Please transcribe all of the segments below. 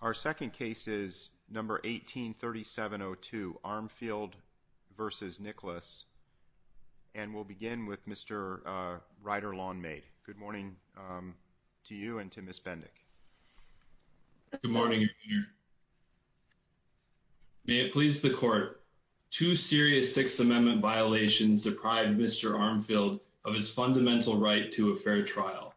Our second case is number 183702 Armfield versus Nicklaus and we'll begin with Mr. Ryder Lawnmaid. Good morning to you and to Ms. Bendick. Good morning. May it please the court. Two serious Sixth Amendment violations deprived Mr. Armfield of his fundamental right to a fair trial.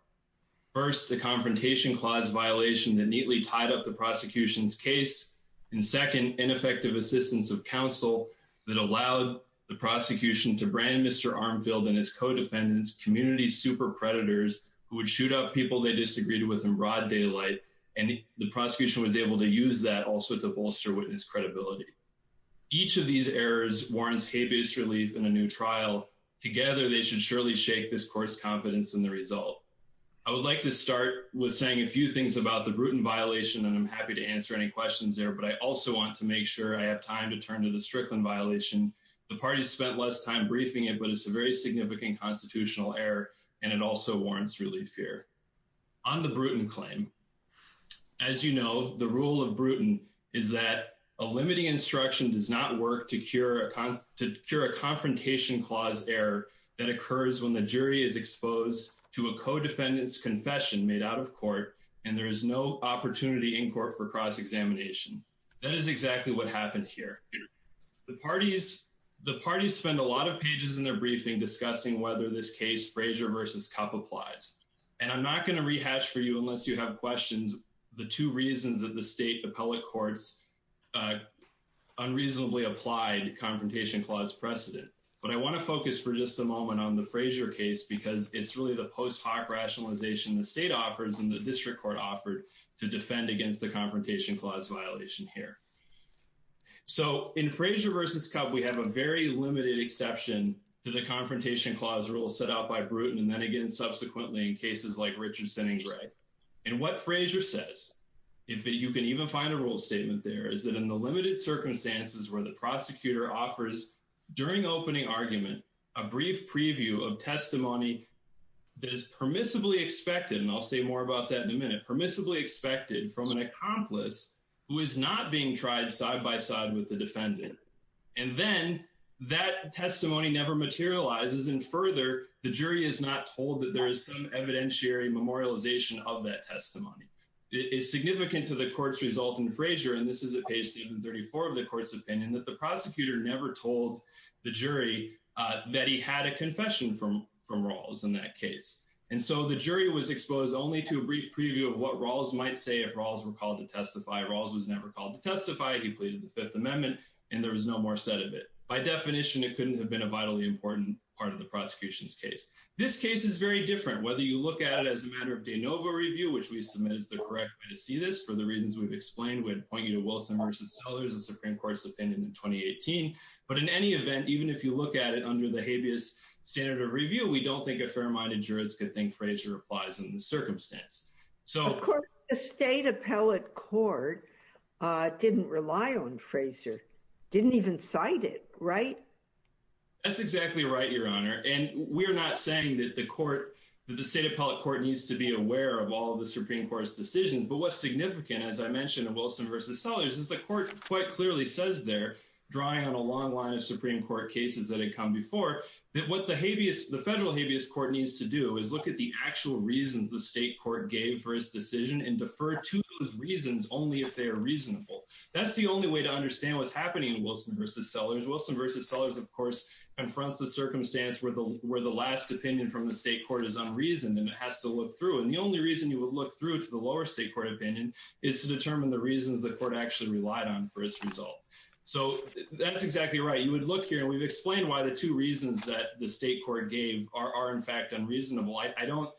First, the confrontation clause violation that neatly tied up the prosecution's case. And second, ineffective assistance of counsel that allowed the prosecution to brand Mr. Armfield and his co-defendants community super predators who would shoot up people they disagreed with in broad daylight. And the prosecution was able to use that also to bolster witness credibility. Each of these errors warrants habeas relief in a new trial. Together, they should surely shake this court's confidence in the result. I would like to start with saying a few things about the Bruton violation and I'm happy to answer any questions there. But I also want to make sure I have time to turn to the Strickland violation. The party spent less time briefing it, but it's a very significant constitutional error. And it also warrants relief here on the Bruton claim. As you know, the rule of Bruton is that a limiting instruction does not work to cure a confrontation clause error that occurs when a jury is exposed to a co-defendant's confession made out of court and there is no opportunity in court for cross-examination. That is exactly what happened here. The parties spend a lot of pages in their briefing discussing whether this case, Frazier v. Kupp, applies. And I'm not going to rehash for you unless you have questions the two reasons that the state appellate courts unreasonably applied confrontation clause precedent. But I want to focus for just a moment on the Frazier case because it's really the post hoc rationalization the state offers and the district court offered to defend against the confrontation clause violation here. So in Frazier v. Kupp, we have a very limited exception to the confrontation clause rule set out by Bruton and then again subsequently in cases like Richardson and Gray. And what Frazier says, if you can even find a rule statement there, is that in the limited circumstances where the jury is not told that there is some evidentiary memorialization of that testimony. It's significant to the court's result in Frazier, and this is at page 734 of the court's opinion, that the rules in that case. And so the jury was exposed only to a brief preview of what Rawls might say if Rawls were called to testify. Rawls was never called to testify. He pleaded the Fifth Amendment and there was no more said of it. By definition, it couldn't have been a vitally important part of the prosecution's case. This case is very different, whether you look at it as a matter of de novo review, which we submit is the correct way to see this for the reasons we've explained. We'd point you to Wilson v. Sellers, the Supreme Court's opinion in 2018. But in any event, even if you look at it under the habeas standard of review, we don't think a fair-minded jurist could think Frazier applies in this circumstance. Of course, the state appellate court didn't rely on Frazier, didn't even cite it, right? That's exactly right, Your Honor. And we're not saying that the state appellate court needs to be aware of all of the Supreme Court's decisions. But what's significant, as I mentioned in Wilson v. Sellers, is the court quite clearly says they're drawing on a long line of Supreme Court cases that had come before, that what the federal habeas court needs to do is look at the actual reasons the state court gave for its decision and defer to those reasons only if they are reasonable. That's the only way to understand what's happening in Wilson v. Sellers. Wilson v. Sellers, of course, confronts the circumstance where the last opinion from the state court is unreasoned and it has to look through. And the only reason you would look through to the lower state court opinion is to determine the reasons the court actually relied on for its result. So that's exactly right. You would look here and we've explained why the two reasons that the state court gave are in fact unreasonable. I don't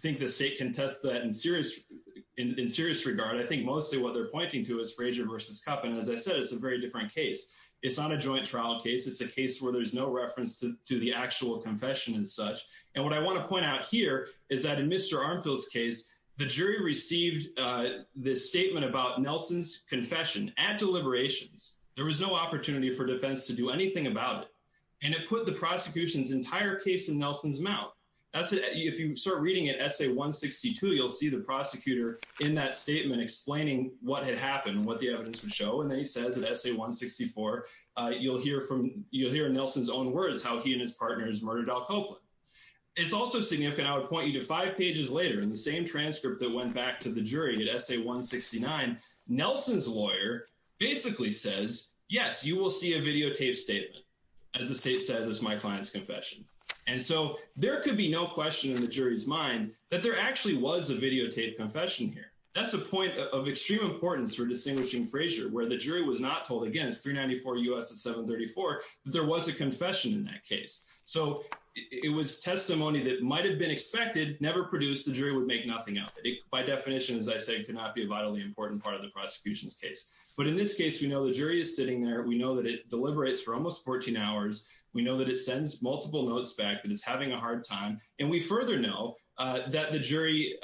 think the state can test that in serious regard. I think mostly what they're pointing to is Frazier v. Kupp. And as I said, it's a very different case. It's not a joint trial case. It's a case where there's no reference to the actual confession and such. And what I want to point out here is that in Mr. Armfield's case, the jury received this statement about Nelson's confession at deliberations. There was no opportunity for defense to do anything about it. And it put the prosecution's entire case in Nelson's mouth. That's it. If you start reading it, Essay 162, you'll see the prosecutor in that statement explaining what had happened, what the evidence would show. And then he says at Essay 164, you'll hear Nelson's own words, how he and his partners murdered Al Copeland. It's also significant. I would point you to five pages later in the same transcript that went back to the jury at Essay 169, Nelson's lawyer basically says, yes, you will see a videotaped statement. As the state says, it's my client's confession. And so there could be no question in the jury's mind that there actually was a videotaped confession here. That's a point of extreme importance for distinguishing Frazier, where the jury was not told against 394 U.S. at 734, that there was a confession in that case. So it was testimony that might've been expected, never produced, the jury would make nothing of it. By definition, as I said, could not be a vitally important part of the prosecution's case. But in this case, we know the jury is sitting there. We know that it deliberates for almost 14 hours. We know that it sends multiple notes back, that it's having a hard time. And we further know that the jury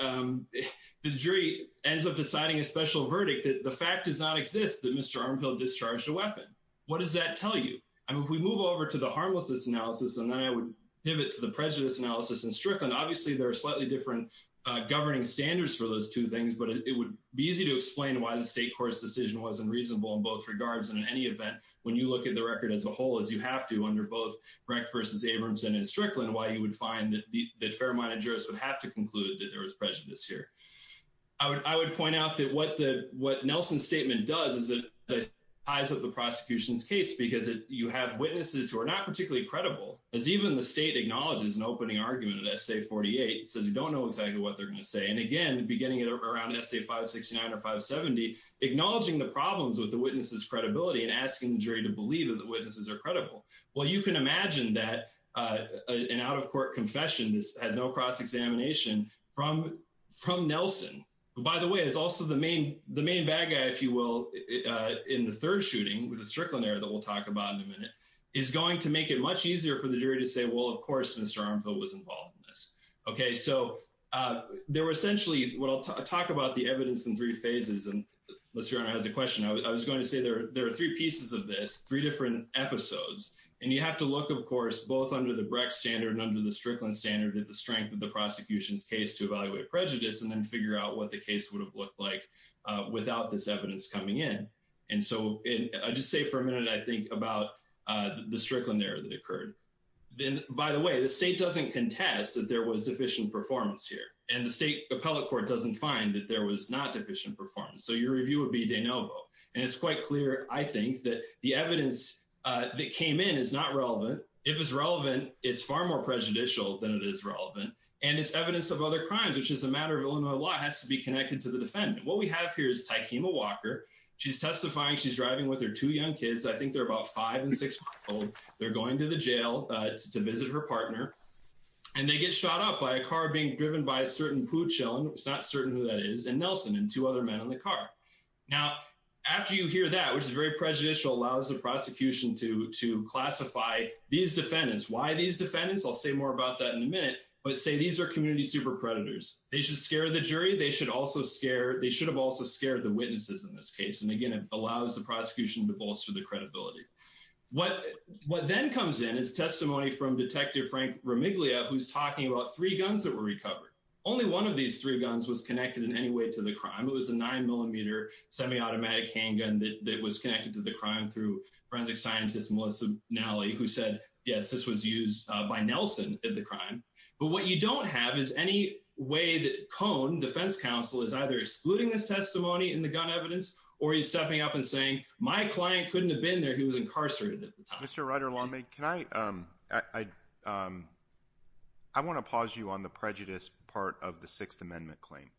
ends up deciding a special verdict that the fact does not exist that Mr. Armfield discharged a weapon. What does that tell you? I mean, if we move over to the harmlessness analysis, and then I would pivot to the prejudice analysis in Strickland, obviously there are slightly different governing standards for those two things, but it would be easy to explain why the state court's decision wasn't reasonable in both regards. And in any event, when you look at the record as a whole, as you have to under both Brecht versus Abramson in Strickland, why you would find that the fair-minded jurists would have to conclude that there was prejudice here. I would point out that what Nelson's statement does is it ties up the prosecution's case, because you have witnesses who are not particularly credible, as even the state acknowledges an opening argument in Essay 48. It says you don't know exactly what they're going to say. And again, beginning at around Essay 569 or 570, acknowledging the problems with the witness's credibility and asking the jury to believe that the witnesses are credible. Well, you can imagine that an out-of-court confession has no cross from Nelson. By the way, it's also the main bad guy, if you will, in the third shooting, with the Strickland error that we'll talk about in a minute, is going to make it much easier for the jury to say, well, of course, Mr. Armfield was involved in this. Okay, so there were essentially, what I'll talk about the evidence in three phases, and Mr. Arnott has a question. I was going to say there are three pieces of this, three different episodes. And you have to look, of course, both under the Brecht standard and under the Strickland standard, at the strength of the prosecution's case to evaluate prejudice and then figure out what the case would have looked like without this evidence coming in. And so I'll just say for a minute, I think, about the Strickland error that occurred. Then, by the way, the state doesn't contest that there was deficient performance here. And the state appellate court doesn't find that there was not deficient performance. So your review would be de novo. And it's quite clear, I think, that the evidence that came in is not relevant. If it's relevant, it's far more prejudicial than it is relevant. And it's evidence of other crimes, which is a matter of Illinois law, has to be connected to the defendant. What we have here is Tykema Walker. She's testifying. She's driving with her two young kids. I think they're about five and six months old. They're going to the jail to visit her partner. And they get shot up by a car being driven by a certain Pooch Ellen, it's not certain who that is, and Nelson and two other men in the car. Now, after you hear that, which is very prejudicial, allows the prosecution to classify these defendants. Why these defendants? I'll say more about that in a minute. But say these are community super predators. They should scare the jury. They should have also scared the witnesses in this case. And again, it allows the prosecution to bolster the credibility. What then comes in is testimony from Detective Frank Romiglia, who's talking about three guns that were recovered. Only one of these three guns was connected in any way to the crime. It was a nine millimeter semi-automatic handgun that was connected to the crime through forensic scientist Melissa Nally, who said, yes, this was used by Nelson in the crime. But what you don't have is any way that Cone, defense counsel, is either excluding this testimony in the gun evidence, or he's stepping up and saying, my client couldn't have been there. He was incarcerated at the time. Mr. Ryder-Lamig, can I, I want to pause you on the prejudice part of the Sixth Amendment claim.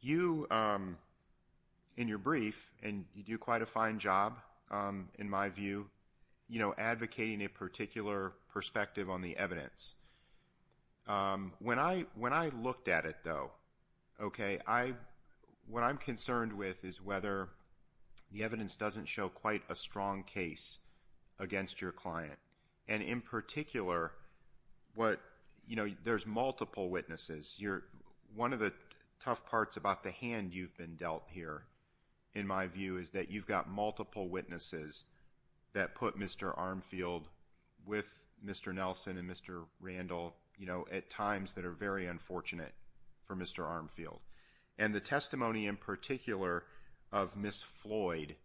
You, in your brief, and you do quite a fine job, in my view, advocating a particular perspective on the evidence. When I looked at it, though, what I'm concerned with is whether the evidence doesn't show quite a strong case against your client. And in particular, there's multiple witnesses. You're, one of the tough parts about the hand you've been dealt here, in my view, is that you've got multiple witnesses that put Mr. Armfield with Mr. Nelson and Mr. Randall, you know, at times that are very unfortunate for Mr. Armfield. And the testimony in particular of Ms. Floyd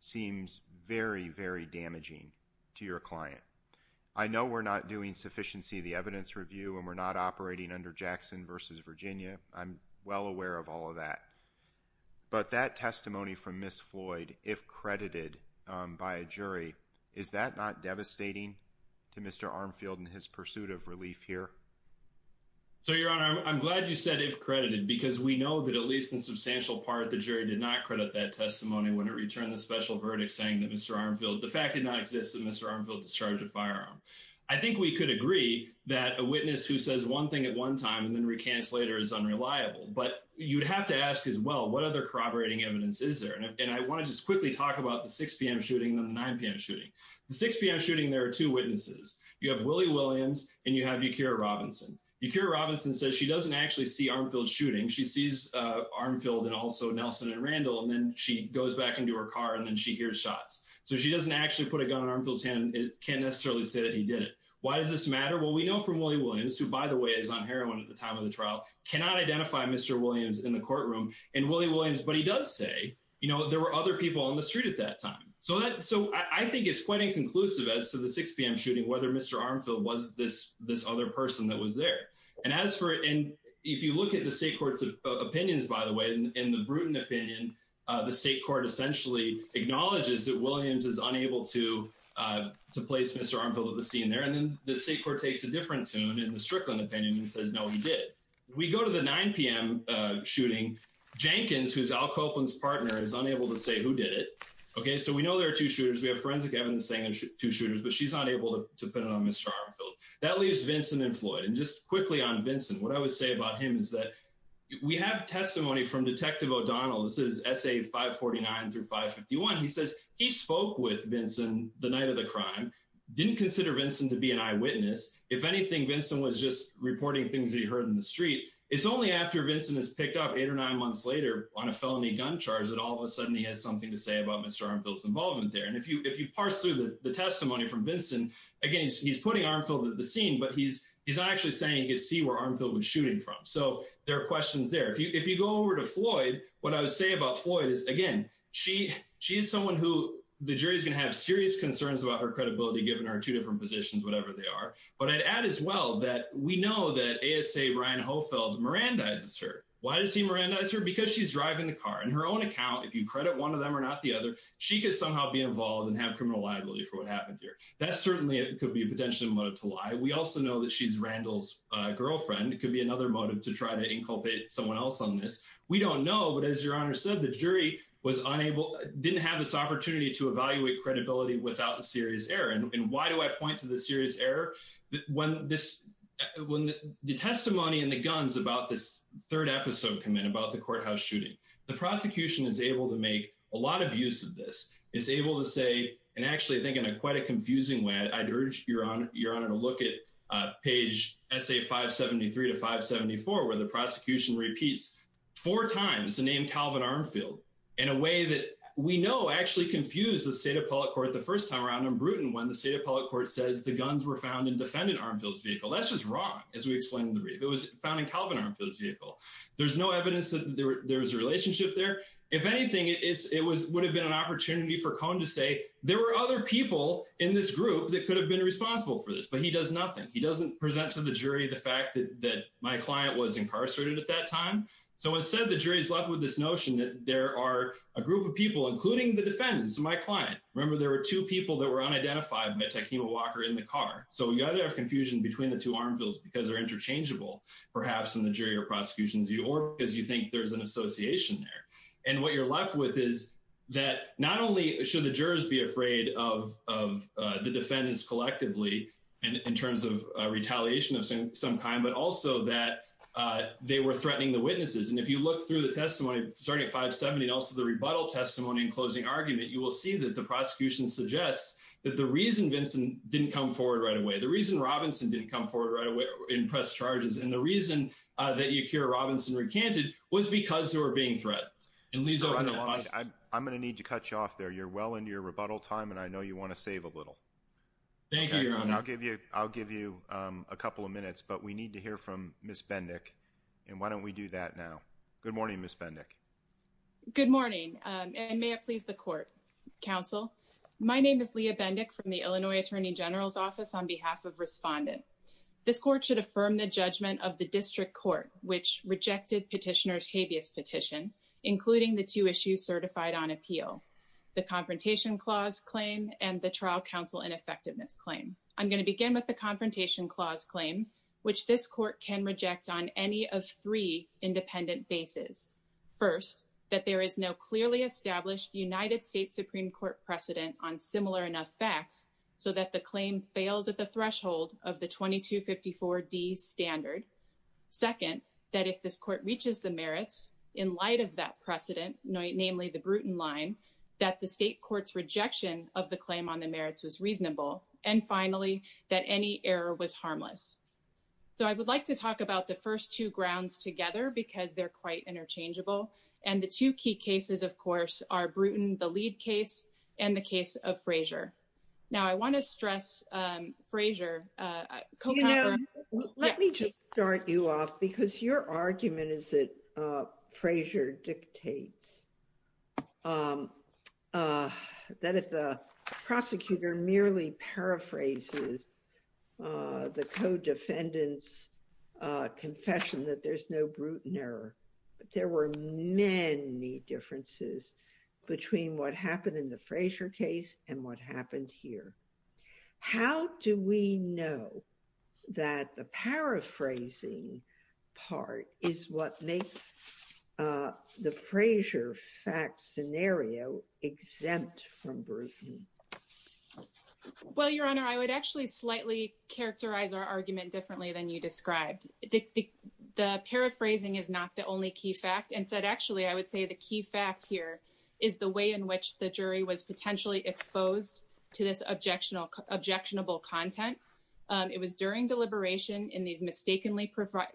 seems very, very damaging to your client. I know we're not doing sufficiency of evidence review, and we're not operating under Jackson versus Virginia. I'm well aware of all of that. But that testimony from Ms. Floyd, if credited by a jury, is that not devastating to Mr. Armfield in his pursuit of relief here? So, Your Honor, I'm glad you said if credited, because we know that at least in substantial part, the jury did not credit that testimony when it returned the special verdict saying that Mr. Armfield, the fact did not exist that Mr. Armfield was charged with firearm. I think we could agree that a witness who says one thing at one time and then recants later is unreliable. But you'd have to ask as well, what other corroborating evidence is there? And I want to just quickly talk about the 6 p.m. shooting and the 9 p.m. shooting. The 6 p.m. shooting, there are two witnesses. You have Willie Williams, and you have Yakira Robinson. Yakira Robinson says she doesn't actually see Armfield's shooting. She sees Armfield and also Nelson and Randall, and then she goes back into her car, and then hears shots. So she doesn't actually put a gun on Armfield's hand and can't necessarily say that he did it. Why does this matter? Well, we know from Willie Williams, who, by the way, is on heroin at the time of the trial, cannot identify Mr. Williams in the courtroom. And Willie Williams, but he does say there were other people on the street at that time. So I think it's quite inconclusive as to the 6 p.m. shooting, whether Mr. Armfield was this other person that was there. And as for it, if you look at the state court's opinions, by the way, in the Bruton opinion, the state court essentially acknowledges that Williams is unable to place Mr. Armfield at the scene there. And then the state court takes a different tune in the Strickland opinion and says, no, he did. We go to the 9 p.m. shooting. Jenkins, who's Al Copeland's partner, is unable to say who did it. Okay, so we know there are two shooters. We have forensic evidence saying there's two shooters, but she's not able to put it on Mr. Armfield. That leaves Vincent and Floyd. And just quickly on Vincent, what I would say about him is that we have testimony from Detective O'Donnell. This is essay 549 through 551. He says he spoke with Vincent the night of the crime, didn't consider Vincent to be an eyewitness. If anything, Vincent was just reporting things that he heard in the street. It's only after Vincent is picked up eight or nine months later on a felony gun charge that all of a sudden he has something to say about Mr. Armfield's involvement there. And if you parse through the testimony from Vincent, again, he's putting Armfield at the scene, but he's actually saying he could see where Armfield was shooting from. So there are questions there. If you go over to Floyd, what I would say about Floyd is, again, she is someone who the jury is going to have serious concerns about her credibility, given her two different positions, whatever they are. But I'd add as well that we know that ASA Ryan Hofeld Mirandizes her. Why does he Mirandize her? Because she's driving the car. In her own account, if you credit one of them or not the other, she could somehow be involved and have criminal liability for what happened here. That certainly could be a potential motive to lie. We also know that she's Randall's girlfriend. It could be another motive to try to inculpate someone else on this. We don't know. But as Your Honor said, the jury was unable, didn't have this opportunity to evaluate credibility without a serious error. And why do I point to the serious error? When the testimony and the guns about this third episode come in about the courthouse shooting, the prosecution is able to make a lot of use of this. It's able to say, and actually I think in quite a confusing way, I'd urge Your Honor to look at page SA573 to 574, where the prosecution repeats four times the name Calvin Armfield in a way that we know actually confused the state of public court the first time around in Bruton when the state of public court says the guns were found in defendant Armfield's vehicle. That's just wrong, as we explained in the brief. It was found in Calvin Armfield's vehicle. There's no evidence that there was a relationship there. If anything, it would have been an opportunity for Cohn to say, there were other people in this group that could have been responsible for this, but he does nothing. He doesn't present to the jury the fact that my client was incarcerated at that time. So instead, the jury is left with this notion that there are a group of people, including the defendants, my client. Remember, there were two people that were unidentified, Mitch Akima Walker, in the car. So you either have confusion between the two Armfields because they're interchangeable, perhaps in the jury or prosecutions, or because you think there's an association there. And what you're left with is that not only should the jurors be afraid of the defendants collectively, in terms of retaliation of some kind, but also that they were threatening the witnesses. And if you look through the testimony, starting at 570, and also the rebuttal testimony and closing argument, you will see that the prosecution suggests that the reason Vincent didn't come forward right away, the reason Robinson didn't come forward right away in press charges, and the reason that Yakira Robinson recanted, was because they were being threatened. And Lisa, I'm going to need to cut you off there. You're well into your rebuttal time, and I know you want to save a little. Thank you, Your Honor. And I'll give you a couple of minutes, but we need to hear from Ms. Bendick. And why don't we do that now? Good morning, Ms. Bendick. Good morning, and may it please the Court. Counsel, my name is Leah Bendick from the Illinois Attorney General's Office on behalf of Respondent. This Court should affirm the judgment of the District Court, which rejected Petitioner's habeas petition, including the two issues certified on appeal, the Confrontation Clause claim and the Trial Counsel Ineffectiveness claim. I'm going to begin with the Confrontation Clause claim, which this Court can reject on any of three independent bases. First, that there is no clearly established United States Supreme Court precedent on similar enough facts so that the claim fails at the threshold of the 2254D standard. Second, that if this Court reaches the merits in light of that precedent, namely the Bruton line, that the State Court's rejection of the claim on the merits was reasonable. And finally, that any error was harmless. So I would like to talk about the first two grounds together because they're quite interchangeable. And the two key cases, of course, are Bruton, the lead case, and the case of Frazier. Now, I want to stress Frazier. You know, let me just start you off because your argument is that Frazier dictates that if the prosecutor merely paraphrases the co-defendant's confession that there's no Bruton error, there were many differences between what happened in the Frazier case and what happened here. How do we know that the paraphrasing part is what makes the Frazier fact scenario exempt from Bruton? Well, Your Honor, I would actually slightly characterize our argument differently than you described. The paraphrasing is not the only key fact. Instead, actually, I would say the key fact here is the way in which the jury was potentially exposed to this objectionable content. It was during deliberation in these mistakenly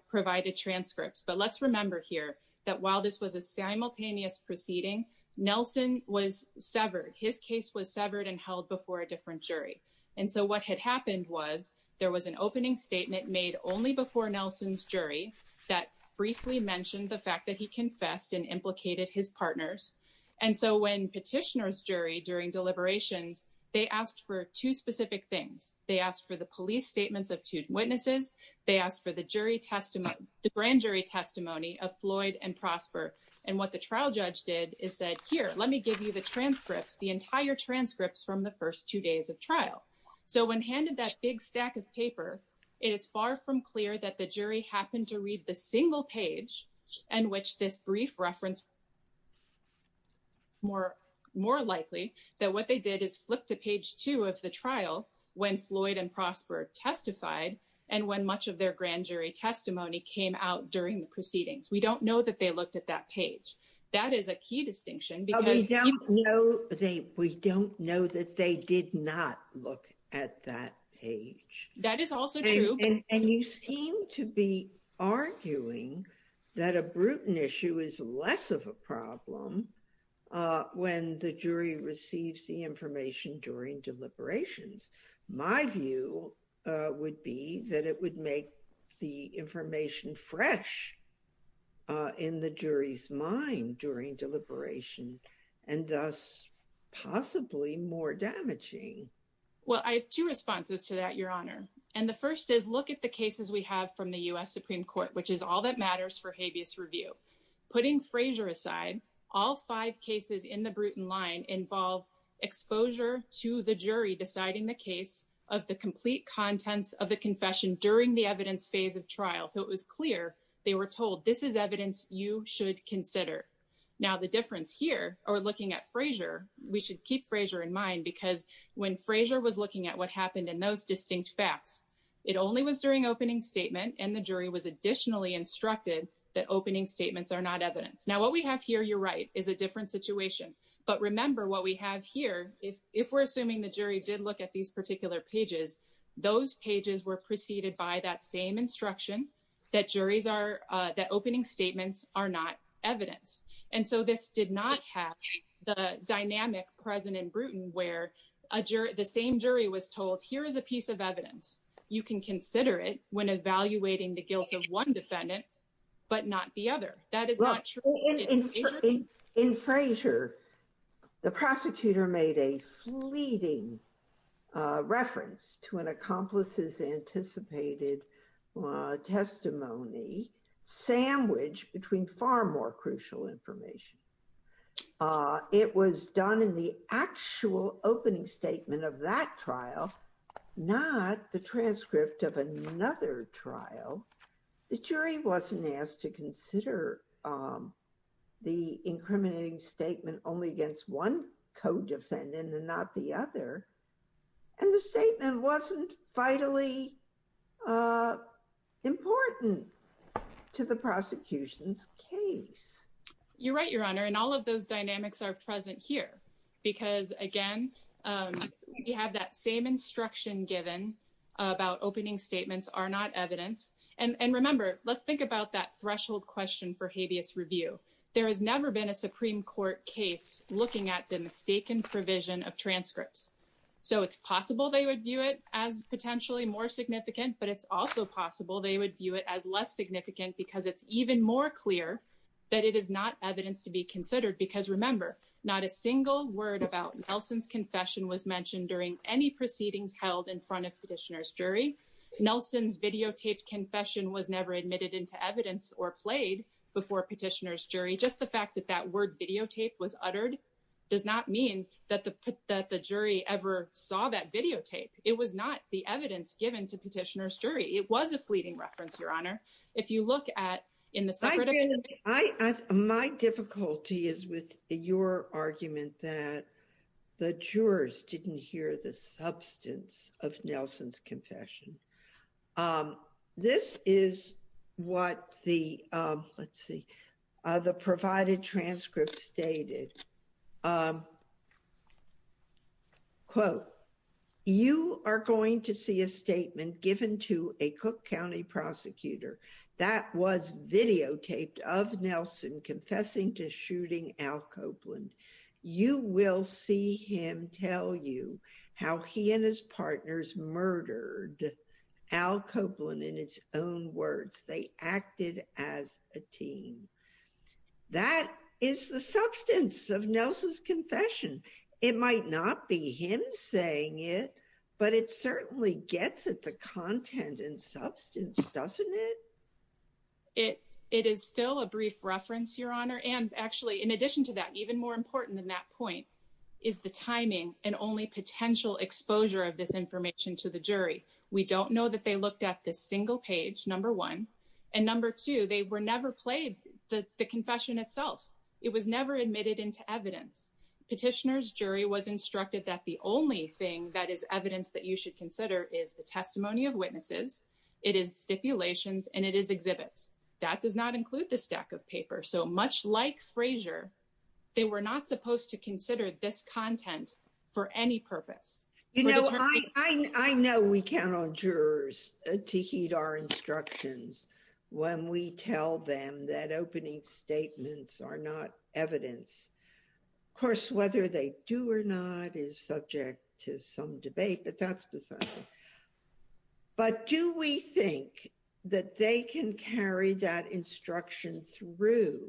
provided transcripts. But let's remember here that while this was a simultaneous proceeding, Nelson was severed. His case was severed and held before a different jury. And so what had happened was there was an opening statement made only before Nelson's And so when petitioners jury during deliberations, they asked for two specific things. They asked for the police statements of two witnesses. They asked for the jury testimony, the grand jury testimony of Floyd and Prosper. And what the trial judge did is said, here, let me give you the transcripts, the entire transcripts from the first two days of trial. So when handed that big stack of paper, it is far from clear that the jury happened to read the single page in which this brief reference more likely that what they did is flip to page two of the trial when Floyd and Prosper testified, and when much of their grand jury testimony came out during the proceedings. We don't know that they looked at that page. That is a key distinction. We don't know that they did not look at that page. That is also true. And you seem to be arguing that a Bruton issue is less of a problem when the jury receives the information during deliberations. My view would be that it would make the information fresh in the jury's mind during deliberation and thus possibly more damaging. Well, I have two responses to that, Your Honor. And the first is look at the cases we have from the U.S. Supreme Court, which is all that matters for habeas review. Putting Frazier aside, all five cases in the Bruton line involve exposure to the jury deciding the case of the complete contents of the confession during the evidence phase of trial. So it was clear they were told this is evidence you should consider. Now, the difference here, or looking at Frazier, we should keep Frazier in mind because when Frazier was looking at what happened in those distinct facts, it only was during opening statement and the jury was additionally instructed that opening statements are not evidence. Now, what we have here, you're right, is a different situation. But remember what we have here, if we're assuming the jury did look at these particular pages, those pages were preceded by that same instruction that opening statements are not evidence. And so this did not have the dynamic present in Bruton where the same jury was told, here is a piece of evidence. You can consider it when evaluating the guilt of one defendant, but not the other. That is not true. In Frazier, the prosecutor made a fleeting reference to an accomplice's anticipated testimony sandwiched between far more crucial information. It was done in the actual opening statement of that trial, not the transcript of another trial. The jury wasn't asked to consider the incriminating statement only against one co-defendant and not the other. And the statement wasn't vitally important to the prosecution's case. You're right, Your Honor, and all of those dynamics are present here. Because again, we have that same instruction given about opening statements are not evidence. And remember, let's think about that threshold question for habeas review. There has never been a Supreme Court case looking at the mistaken provision of transcripts. So it's possible they would view it as potentially more significant, but it's also possible they would view it as less significant because it's even more clear that it is not evidence to be considered. Because remember, not a single word about Nelson's confession was mentioned during any proceedings held in front of Petitioner's jury. Nelson's videotaped confession was never admitted into evidence or played before Petitioner's jury. Just the fact that that word videotape was uttered does not mean that the jury ever saw that videotape. It was not the evidence given to separate evidence. My difficulty is with your argument that the jurors didn't hear the substance of Nelson's confession. This is what the, let's see, the provided transcript stated. Quote, you are going to see a statement given to a Cook County prosecutor that was videotaped of Nelson confessing to shooting Al Copeland. You will see him tell you how he and his partners murdered Al Copeland in his own words. They acted as a team. That is the substance of Nelson's confession. It might not be him saying it, but it certainly gets at the content and substance, doesn't it? It is still a brief reference, Your Honor. And actually, in addition to that, even more important than that point is the timing and only potential exposure of this information to the jury. We don't know that they looked at this single page, number one, and number two, they were never played the confession itself. It was never admitted into evidence. Petitioner's jury was instructed that the only thing that is evidence that you should consider is the testimony of witnesses, it is stipulations, and it is exhibits. That does not mean they were not supposed to consider this content for any purpose. You know, I know we count on jurors to heed our instructions when we tell them that opening statements are not evidence. Of course, whether they do or not is subject to some debate, but that's beside the point. But do we think that they can carry that instruction through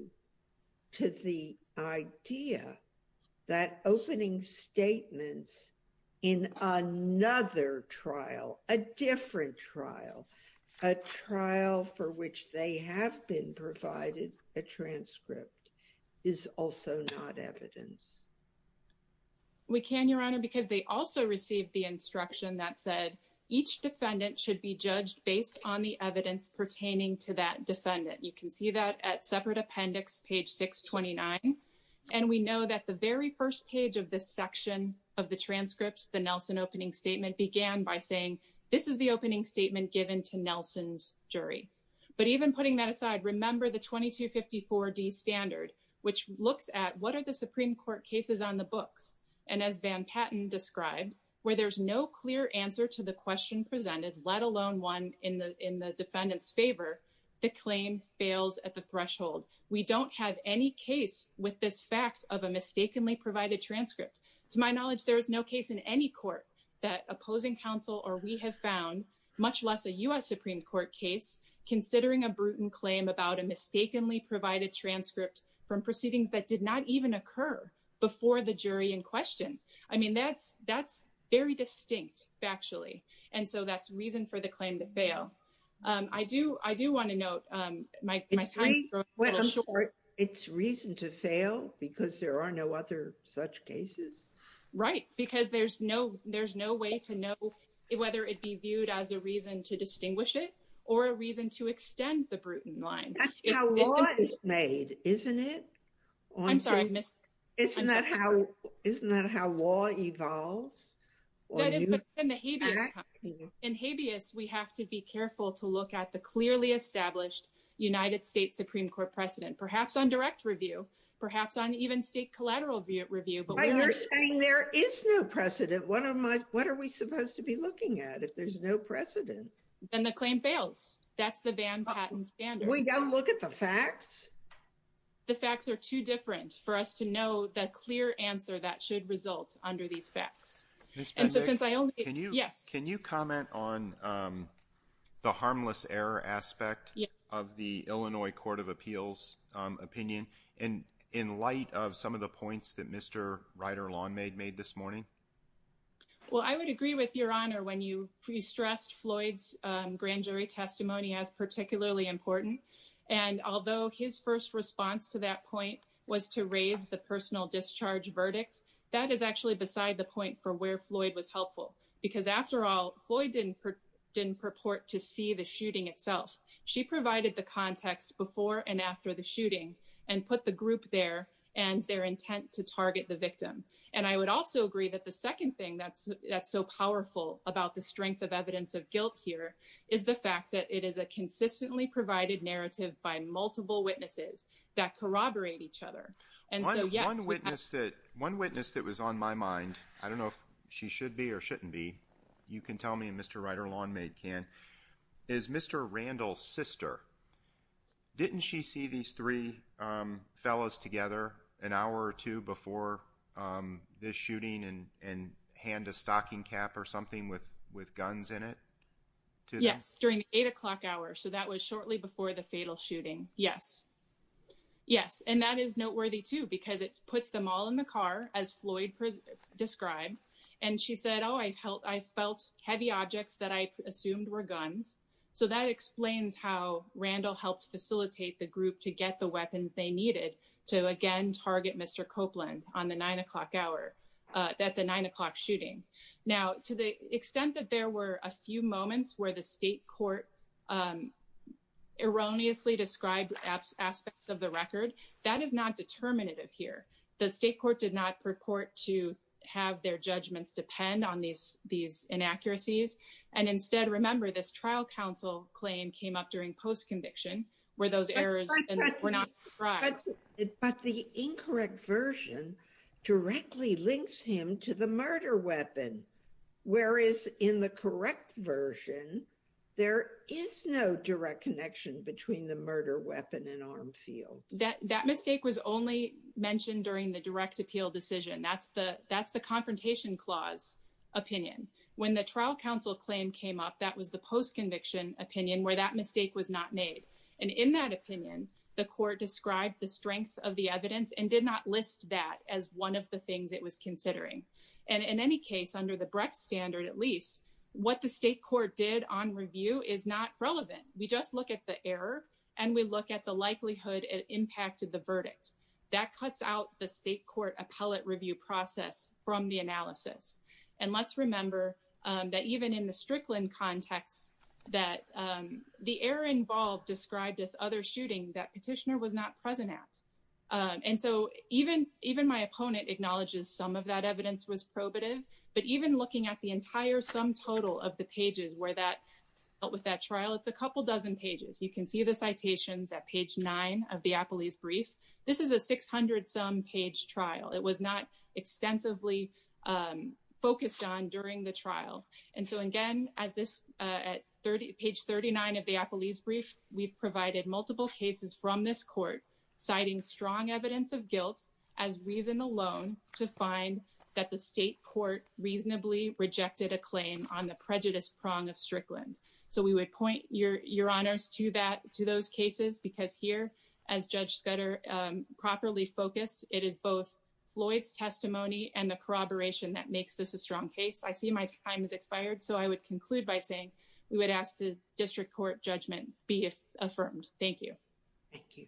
to the idea that opening statements in another trial, a different trial, a trial for which they have been provided a transcript, is also not evidence? We can, Your Honor, because they also received the instruction that said, each defendant should be judged based on the evidence pertaining to that defendant. You can see that at separate appendix, page 629. And we know that the very first page of this section of the transcript, the Nelson opening statement, began by saying, this is the opening statement given to Nelson's jury. But even putting that aside, remember the 2254D standard, which looks at what are the Supreme Court cases on the books. And as Van Patten described, where there's no clear answer to the question presented, let alone one in the defendant's at the threshold. We don't have any case with this fact of a mistakenly provided transcript. To my knowledge, there is no case in any court that opposing counsel or we have found, much less a U.S. Supreme Court case, considering a brutal claim about a mistakenly provided transcript from proceedings that did not even occur before the jury in question. I mean, that's very distinct factually. And so that's reason for the claim to fail. I do want to note my time is a little short. It's reason to fail because there are no other such cases? Right. Because there's no way to know whether it be viewed as a reason to distinguish it or a reason to extend the Bruton line. That's how law is made, isn't it? I'm sorry, I missed. Isn't that how law evolves? That is in the habeas. In habeas, we have to be careful to look at the clearly established United States Supreme Court precedent, perhaps on direct review, perhaps on even state collateral review. But when you're saying there is no precedent, what are we supposed to be looking at if there's no precedent? Then the claim fails. That's the Van Patten standard. We don't look at the facts? The facts are too different for us to know the clear answer that should result under these facts. And so since I only can you yes. Can you comment on the harmless error aspect of the Illinois Court of Appeals opinion and in light of some of the points that Mr. Rider-Long made this morning? Well, I would agree with your honor when you pre-stressed Floyd's grand jury testimony as particularly important. And although his first response to that point was to raise the personal discharge verdicts, that is actually beside the point for where Floyd was helpful. Because after all, Floyd didn't purport to see the shooting itself. She provided the context before and after the shooting and put the group there and their intent to target the victim. And I would also agree that the second thing that's so powerful about the strength of evidence of guilt here is the fact that it is a consistently provided narrative by multiple witnesses that corroborate each other. And so yes. One witness that was on my mind, I don't know if she should be or shouldn't be, you can tell me and Mr. Rider-Long can, is Mr. Randall's sister. Didn't she see these three fellows together an hour or two before this shooting and hand a stocking cap or something with guns in it? Yes, during the eight o'clock hour. So that was shortly before the fatal shooting. Yes. Yes, and that is noteworthy too, because it puts them all in the car as Floyd described. And she said, oh, I felt heavy objects that I assumed were guns. So that explains how Randall helped facilitate the group to get the weapons they needed to again target Mr. Copeland on the nine o'clock hour, at the nine o'clock shooting. Now, to the extent that there were a few moments where the state court erroneously described aspects of the record, that is not determinative here. The state court did not purport to have their judgments depend on these inaccuracies. And instead, remember, this trial counsel claim came up during post-conviction where those errors were not described. But the incorrect version directly links him to the murder weapon. Whereas in the correct version, there is no direct connection between the murder weapon and arm field. That mistake was only mentioned during the direct appeal decision. That's the confrontation clause opinion. When the trial counsel claim came up, that was the post-conviction opinion where that mistake was not made. And in that opinion, the court described the strength of the evidence and did not list that as one of the things it was considering. And in any case, under the Brecht standard, at least, what the state court did on review is not relevant. We just look at the error and we look at the likelihood it impacted the verdict. That cuts out the state court appellate review process from the analysis. And let's remember that even in the Strickland context, that the error involved described this other shooting that petitioner was not present at. And so even my opponent acknowledges some of that evidence was probative. But even looking at the entire sum total of the pages where that dealt with that trial, it's a couple dozen pages. You can see the citations at page nine of the appellee's brief. This is a 600-some page trial. It was not extensively focused on during the trial. And so again, at page 39 of the appellee's brief, we've provided multiple cases from this court, citing strong evidence of guilt as reason alone to find that the state court reasonably rejected a claim on the prejudice prong of Strickland. So we would point your honors to those cases because here, as Judge Scudder properly focused, it is both Floyd's testimony and the corroboration that makes this a strong case. I see my time has expired, so I would conclude by saying we would ask the district court judgment be affirmed. Thank you. Thank you.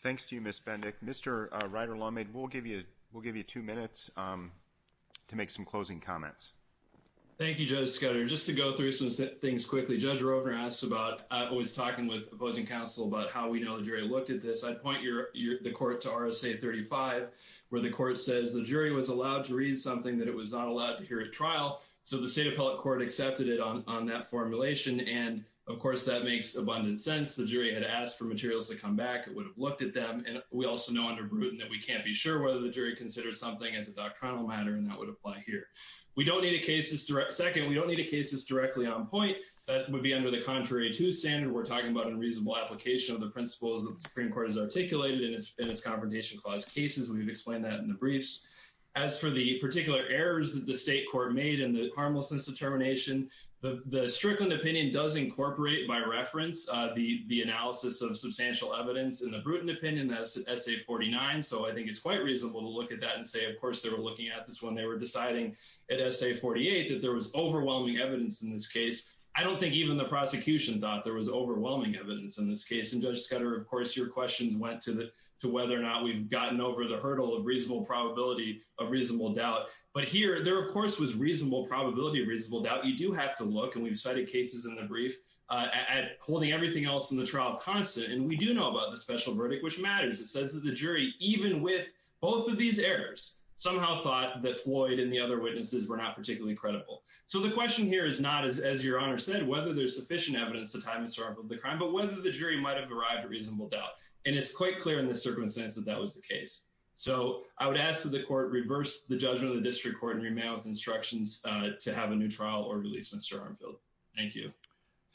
Thanks to you, Ms. Bendick. Mr. Ryder-Longmaid, we'll give you two minutes to make some closing comments. Thank you, Judge Scudder. Just to go through some things quickly, Judge Roper asked about, I was talking with opposing counsel about how we know the jury looked at this. I'd point the court to RSA 35, where the court says the jury was allowed to read something that it was not allowed to hear at trial. So the state appellate court accepted it on that formulation. And of course, that makes abundant sense. The jury had asked for materials to come back. It would have looked at them. And we also know under Bruton that we can't be sure whether the jury considered something as a doctrinal matter, and that would apply here. We don't need a case that's direct. Second, we don't need a case that's directly on point. That would be under the contrary to standard. We're talking about unreasonable application of the principles that the Supreme Court has articulated in its Confrontation Clause cases. We've explained that in the briefs. As for the particular errors that the state court made in the harmlessness determination, the Strickland opinion does incorporate, by reference, the analysis of substantial evidence. In the Bruton opinion, that's at SA 49. So I think it's quite reasonable to look at that and say, of course, they were looking at this when they were deciding at SA 48 that there was overwhelming evidence in this case. I don't think even the prosecution thought there was overwhelming evidence in this case. And Judge Scudder, of course, your questions went to whether or not we've gotten over the reasonable doubt. But here, there, of course, was reasonable probability of reasonable doubt. You do have to look, and we've cited cases in the brief, at holding everything else in the trial constant. And we do know about the special verdict, which matters. It says that the jury, even with both of these errors, somehow thought that Floyd and the other witnesses were not particularly credible. So the question here is not, as your Honor said, whether there's sufficient evidence to time the start of the crime, but whether the jury might have arrived at reasonable doubt. And it's quite clear in the circumstance that that was the case. So I would ask that the court reverse the judgment of the district court and remand with instructions to have a new trial or release Mr. Armfield. MR. ARMFIELD.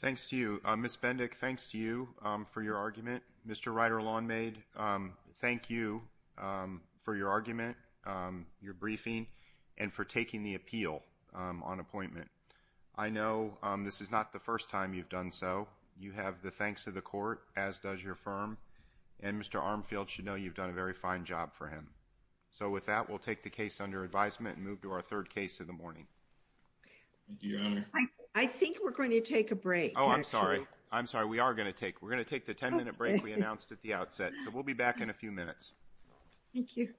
Thanks to you. Ms. Bendick, thanks to you for your argument. Mr. Ryder-Lawnmaid, thank you for your argument, your briefing, and for taking the appeal on appointment. I know this is not the first time you've done so. You have the thanks of the court, as does your firm. And Mr. Armfield should know you've done a very fine job for him. So with that, we'll take the case under advisement and move to our third case of the morning. MR. RYDER-LAWNMAID. Thank you, Your Honor. MS. BENDICK. MR. RYDER-LAWNMAID. Oh, I'm sorry. I'm sorry. We are going to take the 10-minute break we announced at the outset. So we'll be back in a few minutes. MS. BENDICK. Thank you.